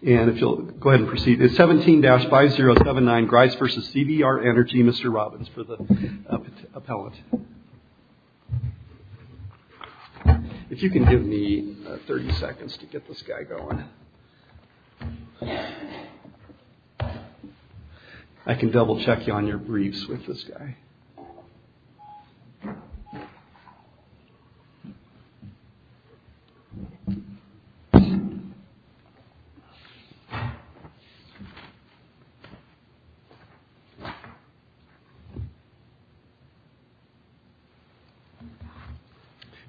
And if you'll go ahead and proceed, it's 17-5079 Grice v. CVR Energy, Mr. Robbins for the appellant. If you can give me 30 seconds to get this guy going. I can double check you on your briefs with this guy.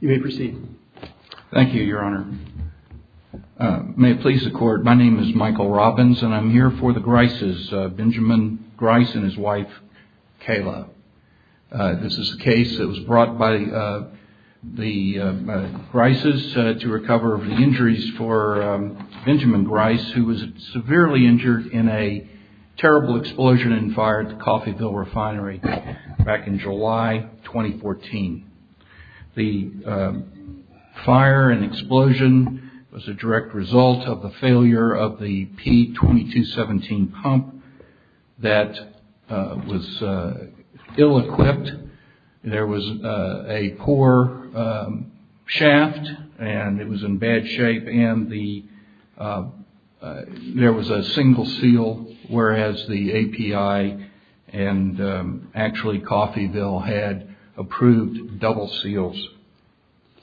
You may proceed. Thank you, Your Honor. May it please the Court, my name is Michael Robbins and I'm here for the Grices, Benjamin Grice and his wife, Kayla. This is a case that was brought by the Grices to recover the injuries for Benjamin Grice, who was severely injured in a terrible explosion and fired at the Coffeyville Refinery back in July 2014. The fire and explosion was a direct result of the failure of the P-2217 pump that was ill-equipped. There was a poor shaft and it was in bad shape and there was a single seal, whereas the API and actually Coffeyville had approved double seals.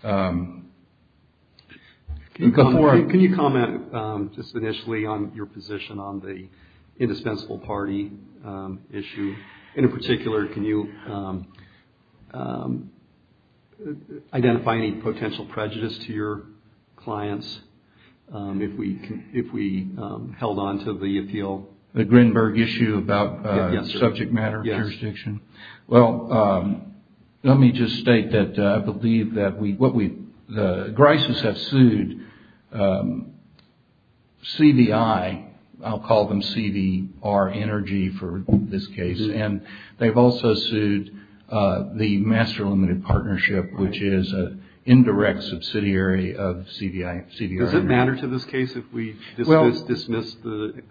Can you comment just initially on your position on the indispensable party issue? In particular, can you identify any potential prejudice to your clients if we held on to the appeal? The Grinberg issue about subject matter jurisdiction? Well, let me just state that I believe that Grices have sued CVI, I'll call them CVR Energy for this case, and they've also sued the Master Limited Partnership, which is an indirect subsidiary of CVI. Does it matter to this case if we dismiss the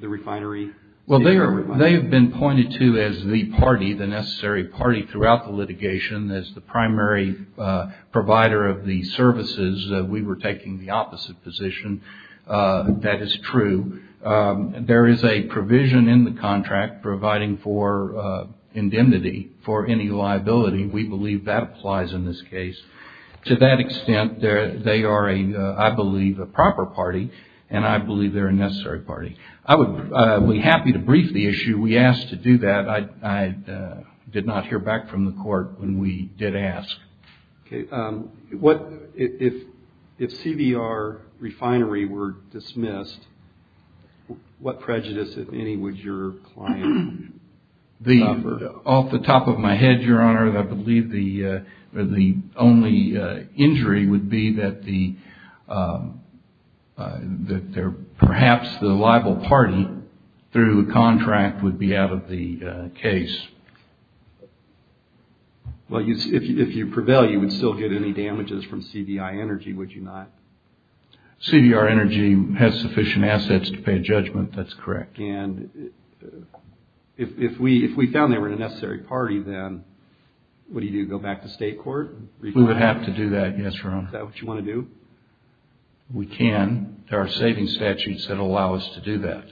refinery? Well, they have been pointed to as the party, the necessary party throughout the litigation. As the primary provider of the services, we were taking the opposite position. That is true. There is a provision in the contract providing for indemnity for any liability. We believe that applies in this case. To that extent, they are, I believe, a proper party and I believe they're a necessary party. I would be happy to brief the issue. We asked to do that. I did not hear back from the court when we did ask. Okay. If CVR refinery were dismissed, what prejudice, if any, would your client cover? Off the top of my head, Your Honor, I believe the only injury would be that perhaps the liable party through the contract would be out of the case. Well, if you prevail, you would still get any damages from CVI Energy, would you not? CVR Energy has sufficient assets to pay a judgment. That's correct. And if we found they were a necessary party, then what do you do? Go back to state court? We would have to do that, yes, Your Honor. Is that what you want to do? We can. There are saving statutes that allow us to do that.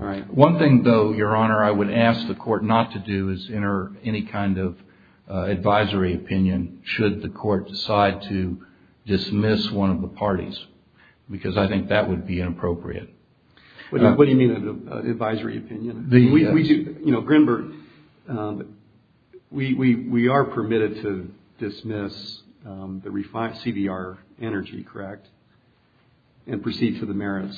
All right. One thing, though, Your Honor, I would ask the court not to do is enter any kind of advisory opinion should the court decide to dismiss one of the parties because I think that would be inappropriate. What do you mean advisory opinion? Grinberg, we are permitted to dismiss the CVR Energy, correct? And proceed to the merits?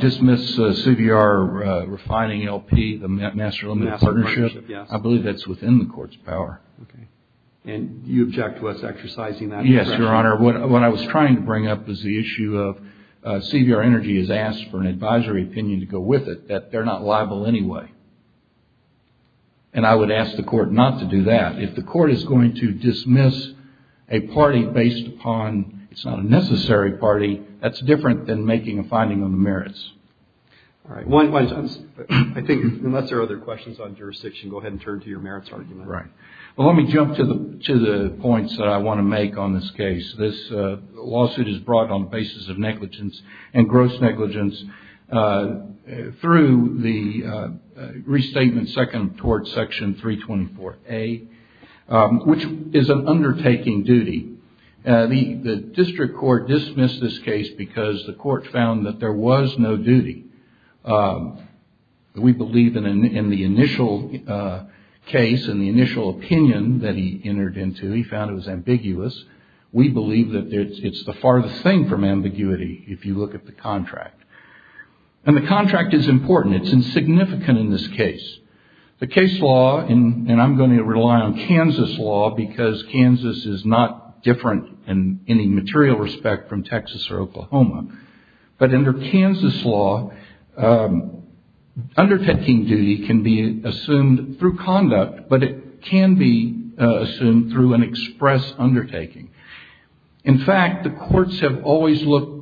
Dismiss CVR Refining LP, the Master Limited Partnership? Master Limited Partnership, yes. I believe that's within the court's power. Okay. And you object to us exercising that discretion? Yes, Your Honor. What I was trying to bring up is the issue of CVR Energy has asked for an advisory opinion to go with it that they're not liable anyway. And I would ask the court not to do that. If the court is going to dismiss a party based upon it's not a necessary party, that's different than making a finding on the merits. All right. I think unless there are other questions on jurisdiction, go ahead and turn to your merits argument. Right. Well, let me jump to the points that I want to make on this case. This lawsuit is brought on the basis of negligence and gross negligence through the restatement seconded toward section 324A, which is an undertaking duty. The district court dismissed this case because the court found that there was no duty. We believe in the initial case and the initial opinion that he entered into, he found it was ambiguous. We believe that it's the farthest thing from ambiguity if you look at the contract. And the contract is important. It's insignificant in this case. The case law, and I'm going to rely on Kansas law because Kansas is not different in any material respect from Texas or Oklahoma. But under Kansas law, undertaking duty can be assumed through conduct, but it can be assumed through express undertaking. In fact, the courts have always looked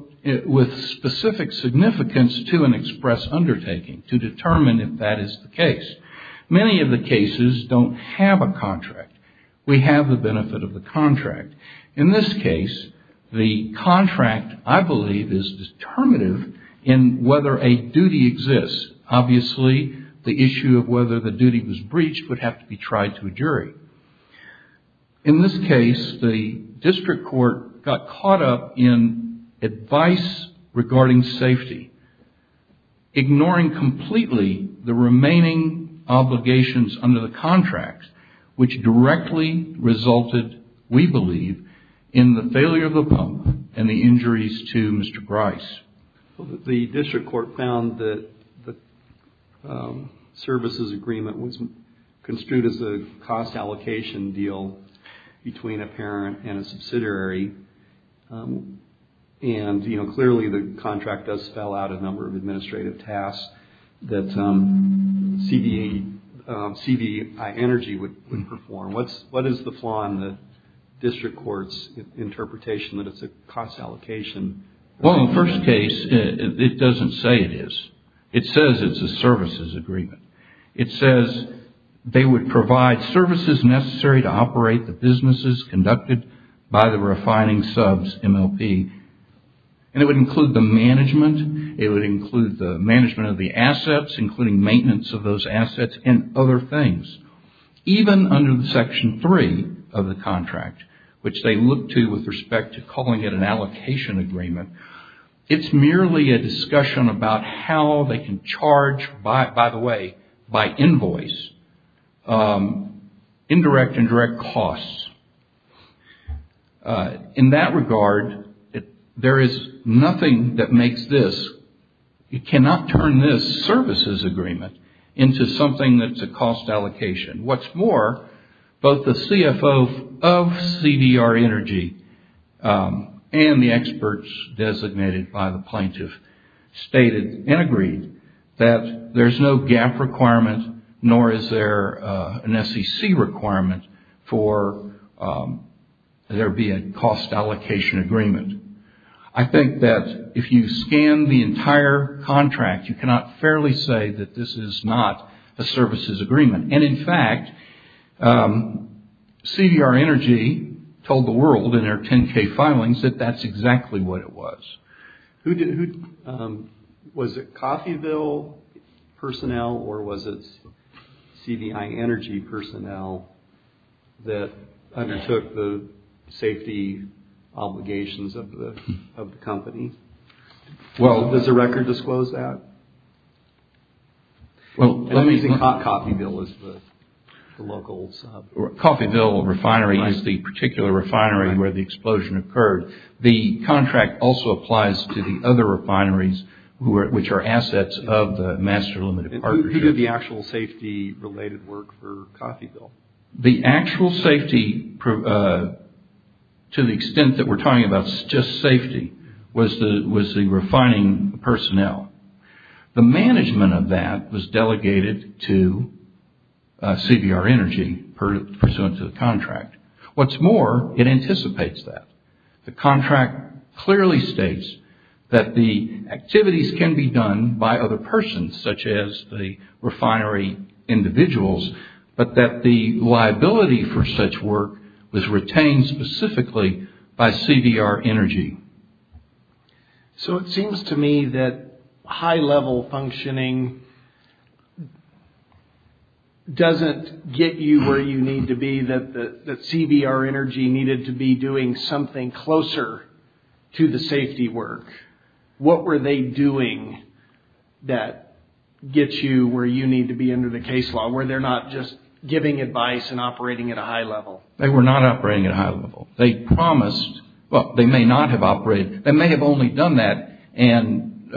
with specific significance to an express undertaking to determine if that is the case. Many of the cases don't have a contract. We have the benefit of the contract. In this case, the contract, I believe, is determinative in whether a duty exists. Obviously, the issue of whether the duty was breached would have to be tried to a jury. In this case, the district court got caught up in advice regarding safety, ignoring completely the remaining obligations under the contract, which directly resulted, we believe, in the failure of the pump and the injuries to Mr. Bryce. The district court found that the services agreement was construed as a cost allocation deal between a parent and a subsidiary, and clearly the contract does spell out a number of administrative tasks that CVE Energy would perform. What is the flaw in the district court's interpretation that it's a cost allocation? Well, in the first case, it doesn't say it is. It says it's a services agreement. It says they would provide services necessary to operate the businesses conducted by the refining subs MLP, and it would include the management. It would include the management of the assets, including maintenance of those assets and other things. Even under Section 3 of the contract, which they look to with respect to calling it an allocation agreement, it's merely a discussion about how they can charge, by the way, by invoice, indirect and direct costs. In that regard, there is nothing that makes this, you cannot turn this services agreement into something that's a cost allocation. What's more, both the CFO of CDR Energy and the experts designated by the plaintiff stated and agreed that there's no gap requirement, nor is there an SEC requirement for there being a cost allocation agreement. I think that if you scan the entire contract, you cannot fairly say that this is not a services agreement. In fact, CDR Energy told the world in their 10K filings that that's exactly what it was. Was it Coffeyville personnel or was it CBI Energy personnel that undertook the safety obligations of the company? Well, does the record disclose that? I think Coffeyville is the local sub. Coffeyville Refinery is the particular refinery where the explosion occurred. The contract also applies to the other refineries, which are assets of the Master Limited Partnership. Who did the actual safety related work for Coffeyville? The actual safety, to the extent that we're talking about just safety, was the refining personnel. The management of that was delegated to CBR Energy pursuant to the contract. What's more, it anticipates that. The contract clearly states that the activities can be done by other persons, such as the refinery individuals, but that the liability for such work was retained specifically by CBR Energy. So it seems to me that high-level functioning doesn't get you where you need to be, that CBR Energy needed to be doing something closer to the safety work. What were they doing that gets you where you need to be under the case law? Were they not just giving advice and operating at a high level? They were not operating at a high level. They promised, well, they may not have operated. They may have only done that and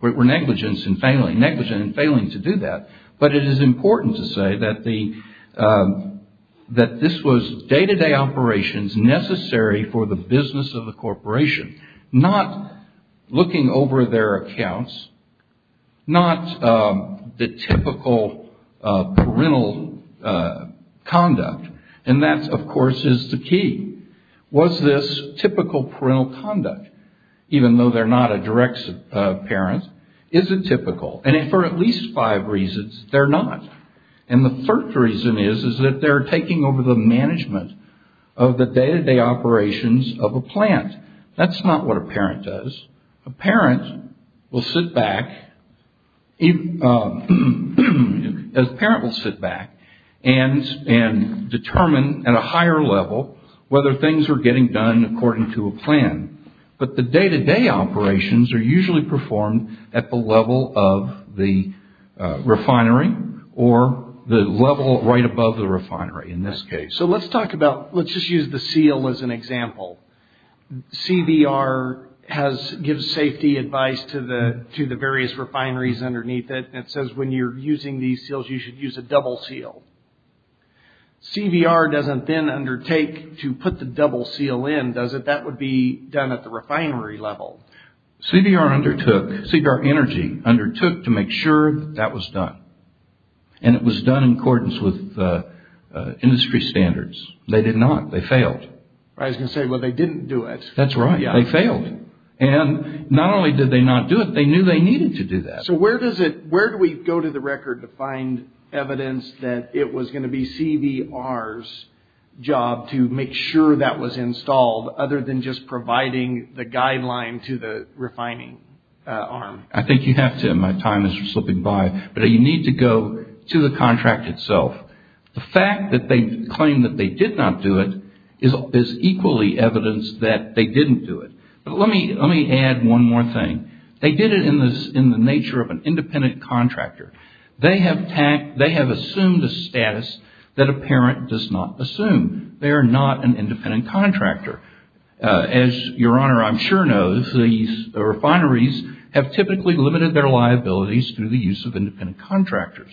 were negligent in failing to do that. But it is important to say that this was day-to-day operations necessary for the business of the corporation, not looking over their accounts, not the typical parental conduct. And that, of course, is the key. Was this typical parental conduct, even though they're not a direct parent? Is it typical? And for at least five reasons, they're not. And the third reason is that they're taking over the management of the day-to-day operations of a plant. That's not what a parent does. A parent will sit back and determine at a higher level whether things are getting done according to a plan. But the day-to-day operations are usually performed at the level of the refinery or the level right above the refinery in this case. So let's talk about, let's just use the seal as an example. CBR gives safety advice to the various refineries underneath it. It says when you're using these seals, you should use a double seal. CBR doesn't then undertake to put the double seal in, does it? That would be done at the refinery level. CBR undertook, CBR Energy undertook to make sure that was done. And it was done in accordance with industry standards. They did not. They failed. I was going to say, well, they didn't do it. That's right. They failed. And not only did they not do it, they knew they needed to do that. So where does it, where do we go to the record to find evidence that it was going to be CBR's job to make sure that was installed other than just providing the guideline to the refining arm? I think you have to, my time is slipping by, but you need to go to the contract itself. The fact that they claim that they did not do it is equally evidence that they didn't do it. But let me add one more thing. They did it in the nature of an independent contractor. They have assumed a status that a parent does not assume. They are not an independent contractor. As Your Honor, I'm sure knows, the refineries have typically limited their liabilities through the use of independent contractors.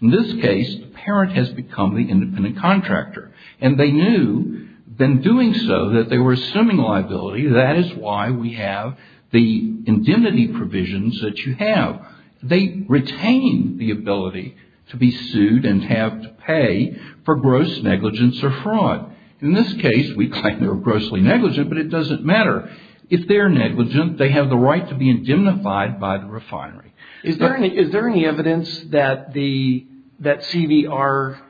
In this case, the parent has become the independent contractor. And they knew, in doing so, that they were assuming liability. That is why we have the indemnity provisions that you have. They retain the ability to be sued and have to pay for gross negligence or fraud. In this case, we claim they were grossly negligent, but it doesn't matter. If they're negligent, they have the right to be indemnified by the refinery. Is there any evidence that CBR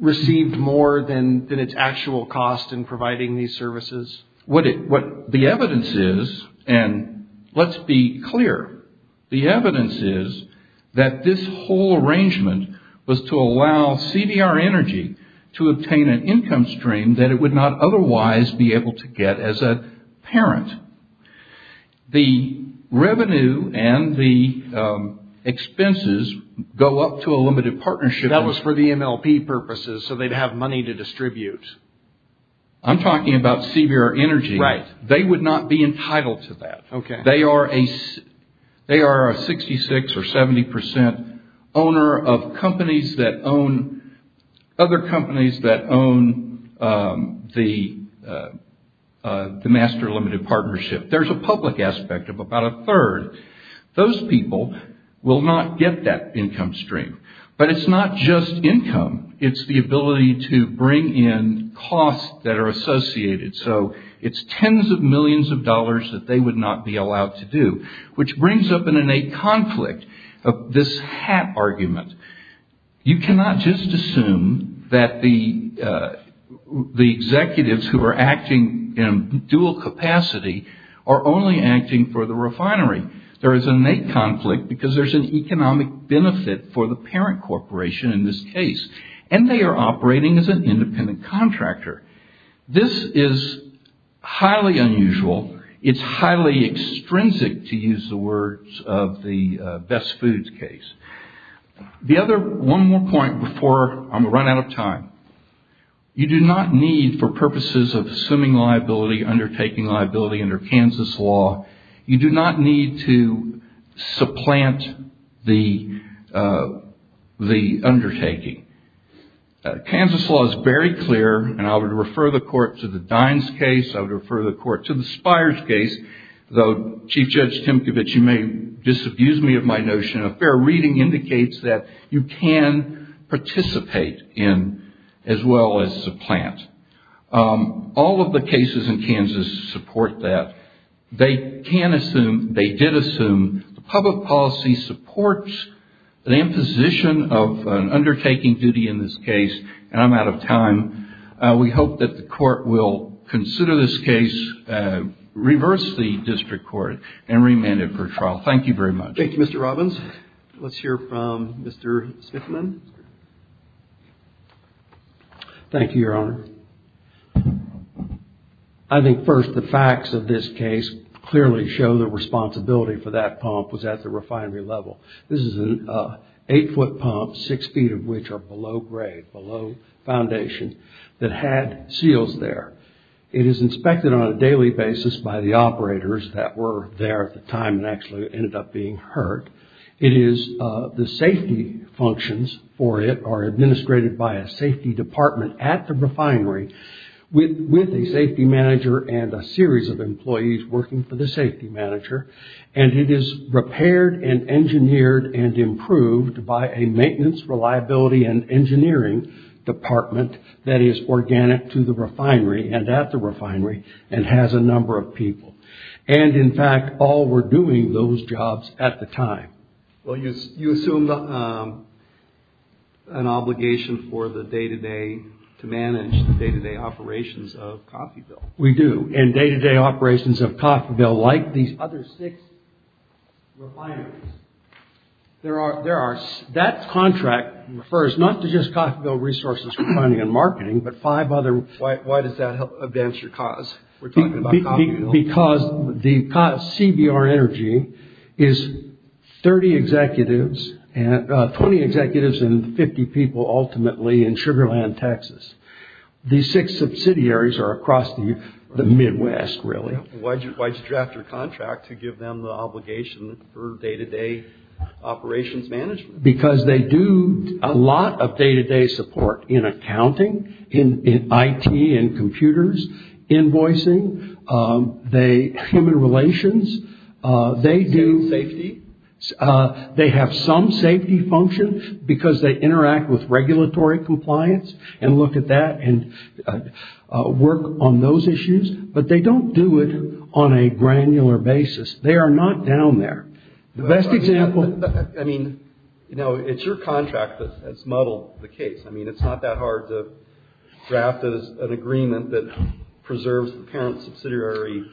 received more than its actual cost in providing these services? What the evidence is, and let's be clear, the evidence is that this whole arrangement was to allow CBR Energy to obtain an income stream that it would not otherwise be able to get as a parent. The revenue and the expenses go up to a limited partnership. That was for the MLP purposes, so they'd have money to distribute. I'm talking about CBR Energy. They would not be entitled to that. They are a 66% or 70% owner of other companies that own the Master Limited Partnership. There's a public aspect of about a third. Those people will not get that income stream. But it's not just income. It's the ability to bring in costs that are associated. So it's tens of millions of dollars that they would not be allowed to do, which brings up an innate conflict of this hat argument. You cannot just assume that the executives who are acting in dual capacity are only acting for the refinery. There is an innate conflict because there's an economic benefit for the parent corporation in this case. And they are operating as an independent contractor. This is highly unusual. It's highly extrinsic, to use the words of the Best Foods case. One more point before I'm going to run out of time. You do not need, for purposes of assuming liability, undertaking liability under Kansas law, you do not need to supplant the undertaking. Kansas law is very clear, and I would refer the court to the Dines case. I would refer the court to the Spires case. Though, Chief Judge Timkovich, you may disabuse me of my notion, a fair reading indicates that you can participate in, as well as supplant. All of the cases in Kansas support that. They can assume, they did assume, the public policy supports the imposition of an undertaking duty in this case, and I'm out of time. We hope that the court will consider this case, reverse the district court, and remand it for trial. Thank you very much. Thank you, Mr. Robbins. Let's hear from Mr. Smithman. Thank you, Your Honor. I think, first, the facts of this case clearly show the responsibility for that pump was at the refinery level. This is an eight-foot pump, six feet of which are below grade, below foundation, that had seals there. It is inspected on a daily basis by the operators that were there at the time and actually ended up being hurt. It is, the safety functions for it are administrated by a safety department at the refinery with a safety manager and a series of employees working for the safety manager. It is repaired and engineered and improved by a maintenance, reliability, and engineering department that is organic to the refinery and at the refinery and has a number of people. In fact, all were doing those jobs at the time. Well, you assumed an obligation for the day-to-day, to manage the day-to-day operations of Coffeyville. We do. And day-to-day operations of Coffeyville, like these other six refineries, that contract refers not to just Coffeyville resources for refining and marketing, but five other... Why does that help advance your cause? We're talking about Coffeyville. Because CBR Energy is 30 executives, 20 executives and 50 people, ultimately, in Sugar Land, Texas. These six subsidiaries are across the Midwest, really. Why did you draft your contract to give them the obligation for day-to-day operations management? Because they do a lot of day-to-day support in accounting, in IT and computers, invoicing, human relations. They do safety. They have some safety function because they interact with regulatory compliance and look at that and work on those issues. But they don't do it on a granular basis. They are not down there. The best example... It's your contract that's muddled the case. It's not that hard to draft an agreement that preserves the parent subsidiary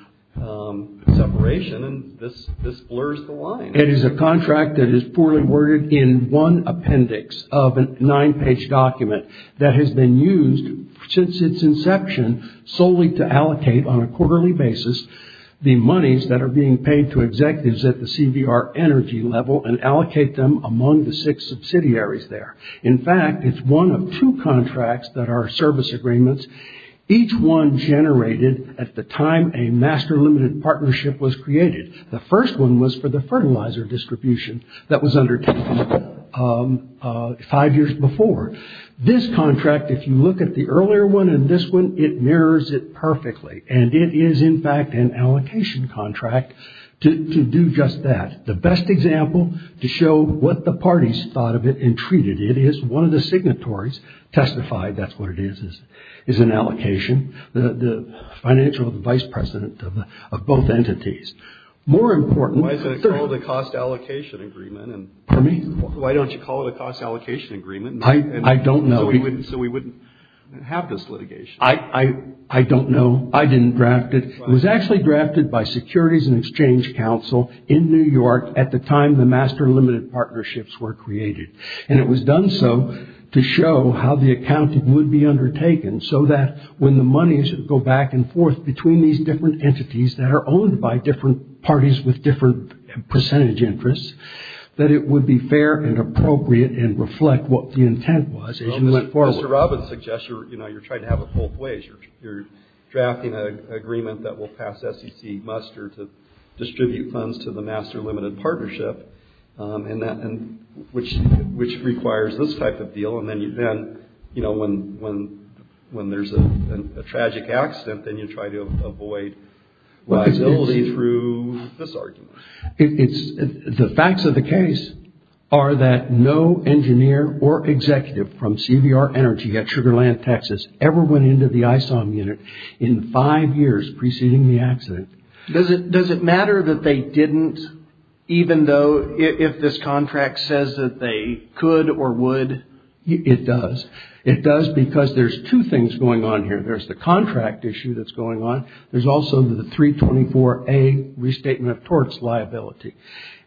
separation and this blurs the line. It is a contract that is poorly worded in one appendix of a nine-page document that has been used since its inception solely to allocate on a quarterly basis the monies that are being paid to executives at the CBR Energy level and allocate them among the six subsidiaries there. In fact, it's one of two contracts that are service agreements. Each one generated at the time a master limited partnership was created. The first one was for the fertilizer distribution that was undertaken five years before. This contract, if you look at the earlier one and this one, it mirrors it perfectly. And it is, in fact, an allocation contract to do just that. The best example to show what the parties thought of it and treated it is one of the signatories, testified, that's what it is, is an allocation. The financial vice president of both entities. More important... Why is it called a cost allocation agreement? Why don't you call it a cost allocation agreement? I don't know. So we wouldn't have this litigation? I don't know. I didn't draft it. It was actually drafted by Securities and Exchange Council in New York at the time the master limited partnerships were created. And it was done so to show how the accounting would be undertaken so that when the monies go back and forth between these different entities that are owned by different parties with different percentage interests that it would be fair and appropriate and reflect what the intent was as you went forward. Mr. Robbins suggests you're trying to have it both ways. You're drafting an agreement that will pass SEC muster to distribute funds to the master limited partnership which requires this type of deal. And then when there's a tragic accident then you try to avoid liability through this argument. The facts of the case are that no engineer or executive from CVR Energy at Sugar Land, Texas ever went into the ISOM unit in five years preceding the accident. Does it matter that they didn't even though if this contract says that they could or would? It does. It does because there's two things going on here. There's the contract issue that's going on. There's also the 324A restatement of torts liability.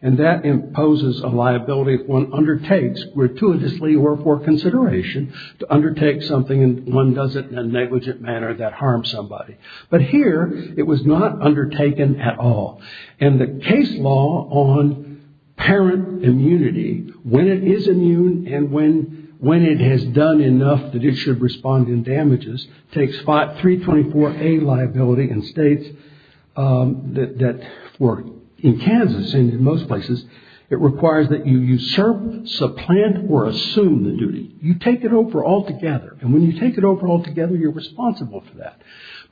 And that imposes a liability if one undertakes gratuitously or for consideration to undertake something and one does it in a negligent manner that harms somebody. But here it was not undertaken at all. And the case law on parent immunity when it is immune and when it has done enough that it should respond in damages takes 324A liability in states that work. In Kansas and in most places it requires that you usurp, supplant or assume the duty. You take it over altogether and when you take it over altogether you're responsible for that.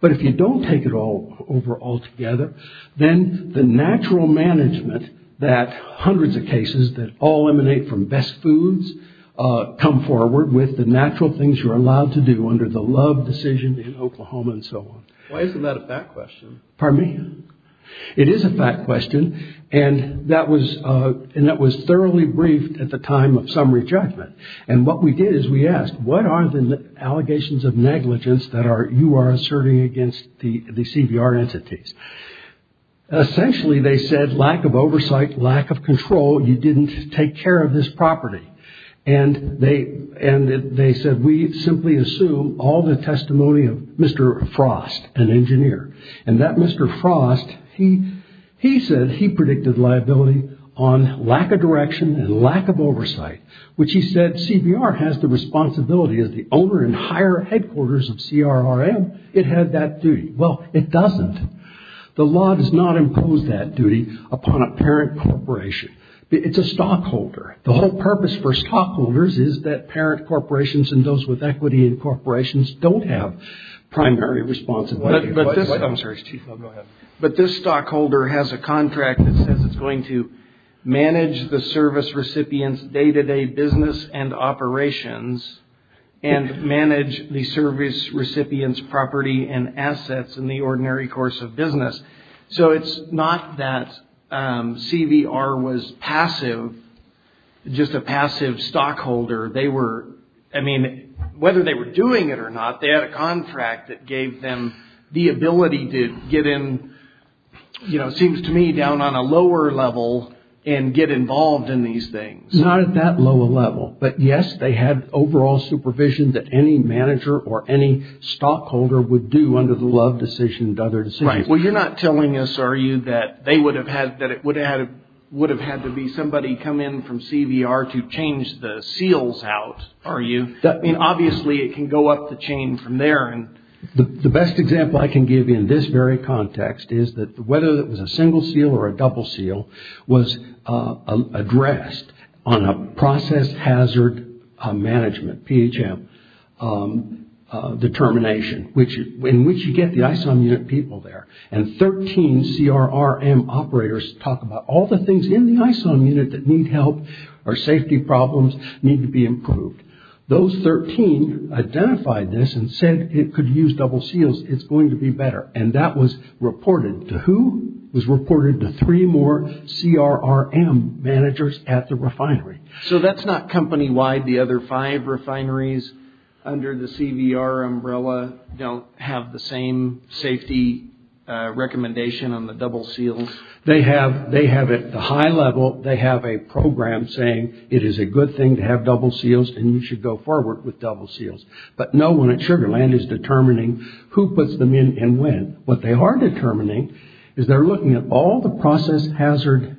But if you don't take it over altogether then the natural management that hundreds of cases that all emanate from best foods come forward with the natural things you're allowed to do under the love decision in Oklahoma and so on. Why isn't that a fact question? It is a fact question and that was thoroughly briefed at the time of summary judgment. And what we did is we asked what are the allegations of negligence that you are asserting against the CBR entities. Essentially they said lack of oversight, lack of control you didn't take care of this property. And they said we simply assume all the testimony of Mr. Frost, an engineer. And that Mr. Frost he said he predicted liability on lack of direction and lack of oversight. Which he said CBR has the responsibility as the owner and higher headquarters of CRRM it had that duty. Well it doesn't. The law does not impose that duty upon a parent corporation. It's a stockholder. The whole purpose for stockholders is that parent corporations and those with equity in corporations don't have primary responsibility. But this stockholder has a contract that says it's going to manage the service recipients day to day business and operations and manage the service recipients property and assets in the ordinary course of business. So it's not that CBR was passive, just a passive stockholder. They were I mean whether they were doing it or not they had a contract that gave them the ability to get in seems to me down on a lower level and get involved in these things. Not at that lower level. But yes they had overall supervision that any manager or any stockholder would do under the Love decision and other decisions. Well you're not telling us are you that it would have had to be somebody come in from CBR to change the seals out are you? I mean obviously it can go up the chain from there. The best example I can give you in this very context is that whether it was a single seal or a double seal was addressed on a process hazard management, PHM determination in which you get the ISOM unit people there. And 13 CRRM operators talk about all the things in the ISOM unit that need help or safety problems need to be improved. Those 13 identified this and said it could use double seals, it's going to be better. And that was reported to who? 13 CRRM managers at the refinery. So that's not company wide the other 5 refineries under the CBR umbrella don't have the same safety recommendation on the double seals? They have at the high level they have a program saying it is a good thing to have double seals and you should go forward with double seals. But no one at Sugar Land is determining who puts them in and when. What they are determining is they're doing hazard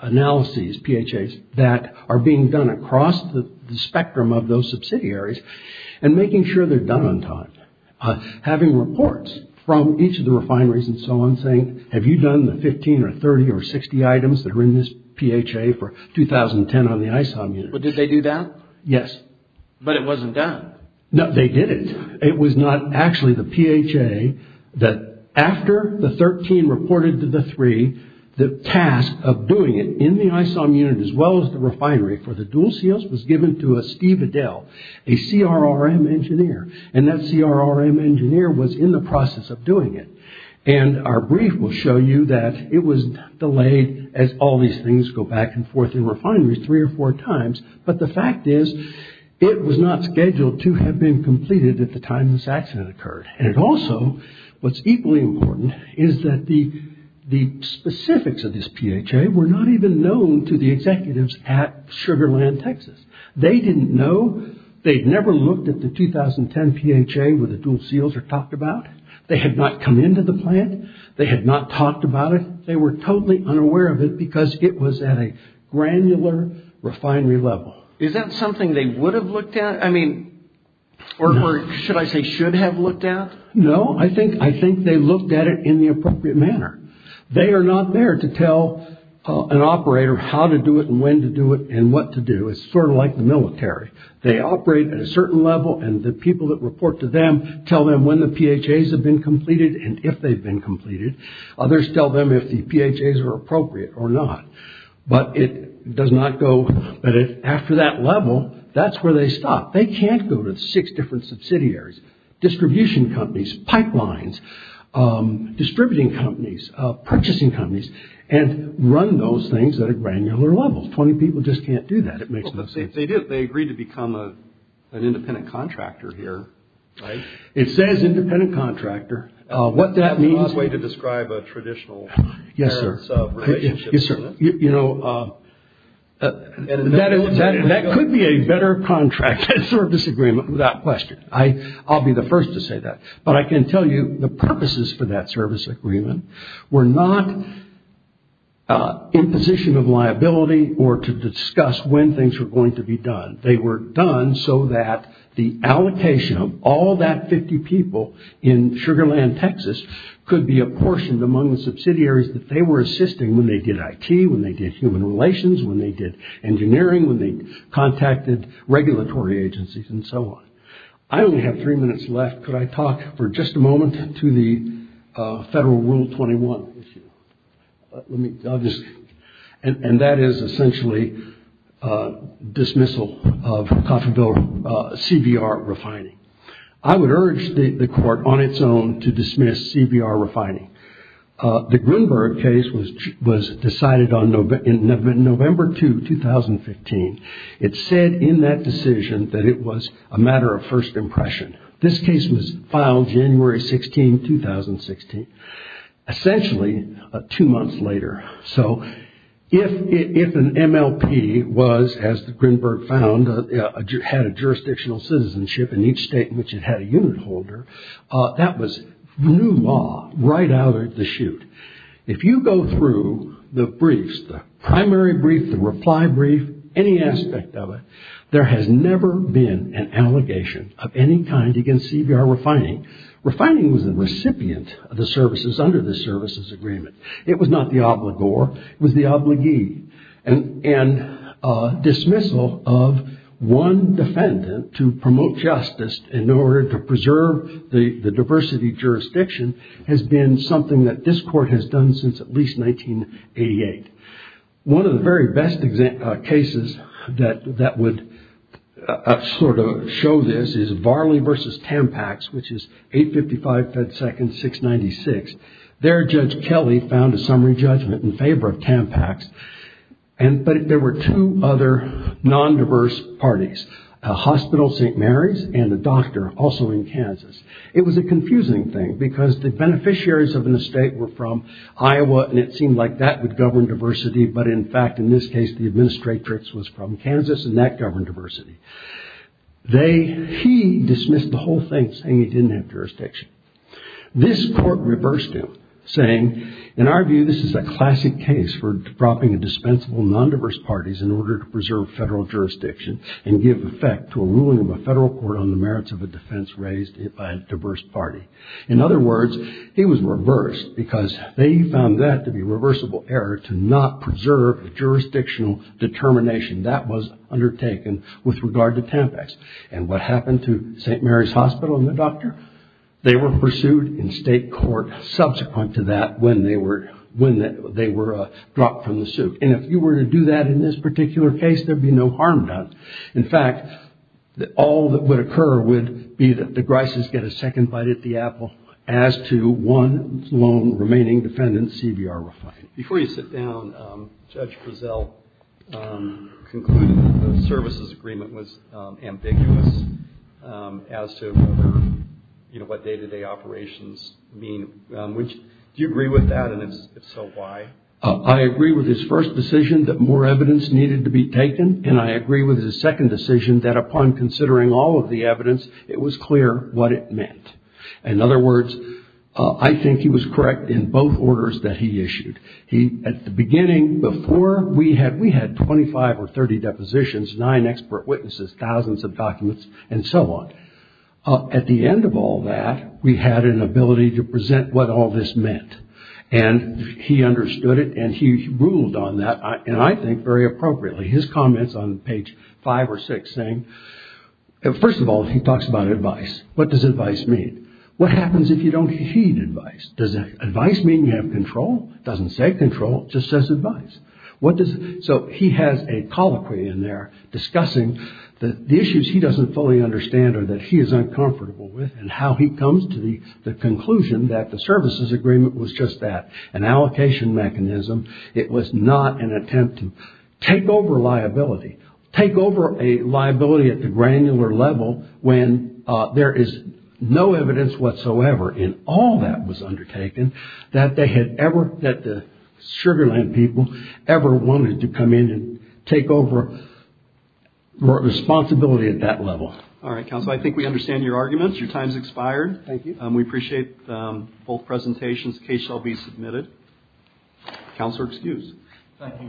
analyses PHAs that are being done across the spectrum of those subsidiaries and making sure they're done on time. Having reports from each of the refineries and so on saying have you done the 15 or 30 or 60 items that are in this PHA for 2010 on the ISOM unit. But did they do that? Yes. But it wasn't done? No, they didn't. It was not actually the PHA that after the 13 reported to the 3 the task of doing it in the ISOM unit as well as the refinery for the dual seals was given to a Steve Adell a CRRM engineer and that CRRM engineer was in the process of doing it. And our brief will show you that it was delayed as all these things go back and forth in refineries 3 or 4 times, but the fact is it was not scheduled to have been completed at the time this accident occurred. And it also what's equally important is that the specifics of this PHA were not even known to the executives at Sugar Land Texas. They didn't know they'd never looked at the 2010 PHA where the dual seals are talked about. They had not come into the plant. They had not talked about it. They were totally unaware of it because it was at a granular refinery level. Is that something they would have looked at? Or should I say should have looked at? No. I think they looked at it in the appropriate manner. They are not there to tell an operator how to do it and when to do it and what to do. It's sort of like the military. They operate at a certain level and the people that report to them tell them when the PHAs have been completed and if they've been completed. Others tell them if the PHAs are appropriate or not. But it does not go after that level. That's where they stop. They can't go to six different subsidiaries. Distribution companies. Pipelines. Distributing companies. Purchasing companies. And run those things at a granular level. Twenty people just can't do that. They agreed to become an independent contractor here. It says independent contractor. What that means is a way to describe a traditional relationship. You know that could be a better contracted service agreement without question. I'll be the first to say that. But I can tell you the purposes for that service agreement were not imposition of liability or to discuss when things were going to be done. They were done so that the allocation of all that 50 people in Sugar Land, Texas could be apportioned among the subsidiaries that they were assisting when they did IT, when they did human relations, when they did regulatory agencies and so on. I only have three minutes left. Could I talk for just a moment to the Federal Rule 21 issue? And that is essentially dismissal of coffee bill CBR refining. I would urge the court on its own to dismiss CBR refining. The Grunberg case was decided on November 2, 2015. It said in that decision that it was a matter of first impression. This case was filed January 16, 2016. Essentially, two months later. If an MLP was, as the Grunberg found, had a jurisdictional citizenship in each state in which it had a unit holder, that was new law right out of the chute. If you go through the briefs, the primary brief, the reply brief, any aspect of it, there has never been an allegation of any kind against CBR refining. Refining was the recipient of the services under the services agreement. It was not the obligor. It was the obligee. And dismissal of one defendant to promote justice in order to preserve the diversity of jurisdiction has been something that this court has done since at least 1988. One of the very best cases that would sort of show this is Varley v. Tampax, which is 855 FedSecond 696. There, Judge Kelly found a summary judgment in favor of Tampax. But there were two other non-diverse parties. A hospital, St. Mary's, and a doctor, also in Kansas. It was a confusing thing because the beneficiaries of an estate were from Kansas and that governed diversity, but in fact, in this case, the administratrix was from Kansas and that governed diversity. He dismissed the whole thing saying he didn't have jurisdiction. This court reversed him saying, in our view, this is a classic case for dropping a dispensable non-diverse parties in order to preserve federal jurisdiction and give effect to a ruling of a federal court on the merits of a defense raised by a diverse party. In other words, he was reversed because they found that to be a reversible error to not preserve jurisdictional determination. That was undertaken with regard to Tampax. And what happened to St. Mary's Hospital and the doctor? They were pursued in state court subsequent to that when they were dropped from the suit. And if you were to do that in this particular case, there would be no harm done. In fact, all that would occur would be that the Grises get a second bite at the apple as to one lone remaining defendant, CBR Refine. Before you sit down, Judge Grisel concluded that the services agreement was ambiguous as to what day-to-day operations mean. Do you agree with that, and if so, why? I agree with his first decision that more evidence needed to be taken, and I agree with his second decision that upon considering all of the evidence, it was clear what it meant. In other words, I think he was correct in both orders that he issued. At the beginning, before we had 25 or 30 depositions, 9 expert witnesses, thousands of documents, and so on. At the end of all that, we had an ability to present what all this meant. And he understood it, and he ruled on that, and I think very appropriately. His comments on page 5 or 6 saying first of all, he talks about advice. What does advice mean? What happens if you don't heed advice? Does advice mean you have control? It doesn't say control, it just says advice. So he has a colloquy in there discussing the issues he doesn't fully understand or that he is uncomfortable with, and how he comes to the conclusion that the services agreement was just that, an allocation mechanism. It was not an attempt to take over liability. Take over a liability at a granular level when there is no evidence whatsoever in all that was undertaken that they had ever that the Sugar Land people ever wanted to come in and take over responsibility at that level. Alright, Counselor, I think we understand your arguments. Your time has expired. Thank you. We appreciate both presentations. The case shall be submitted. Counselor, excuse. Thank you, Your Honor. Thank you.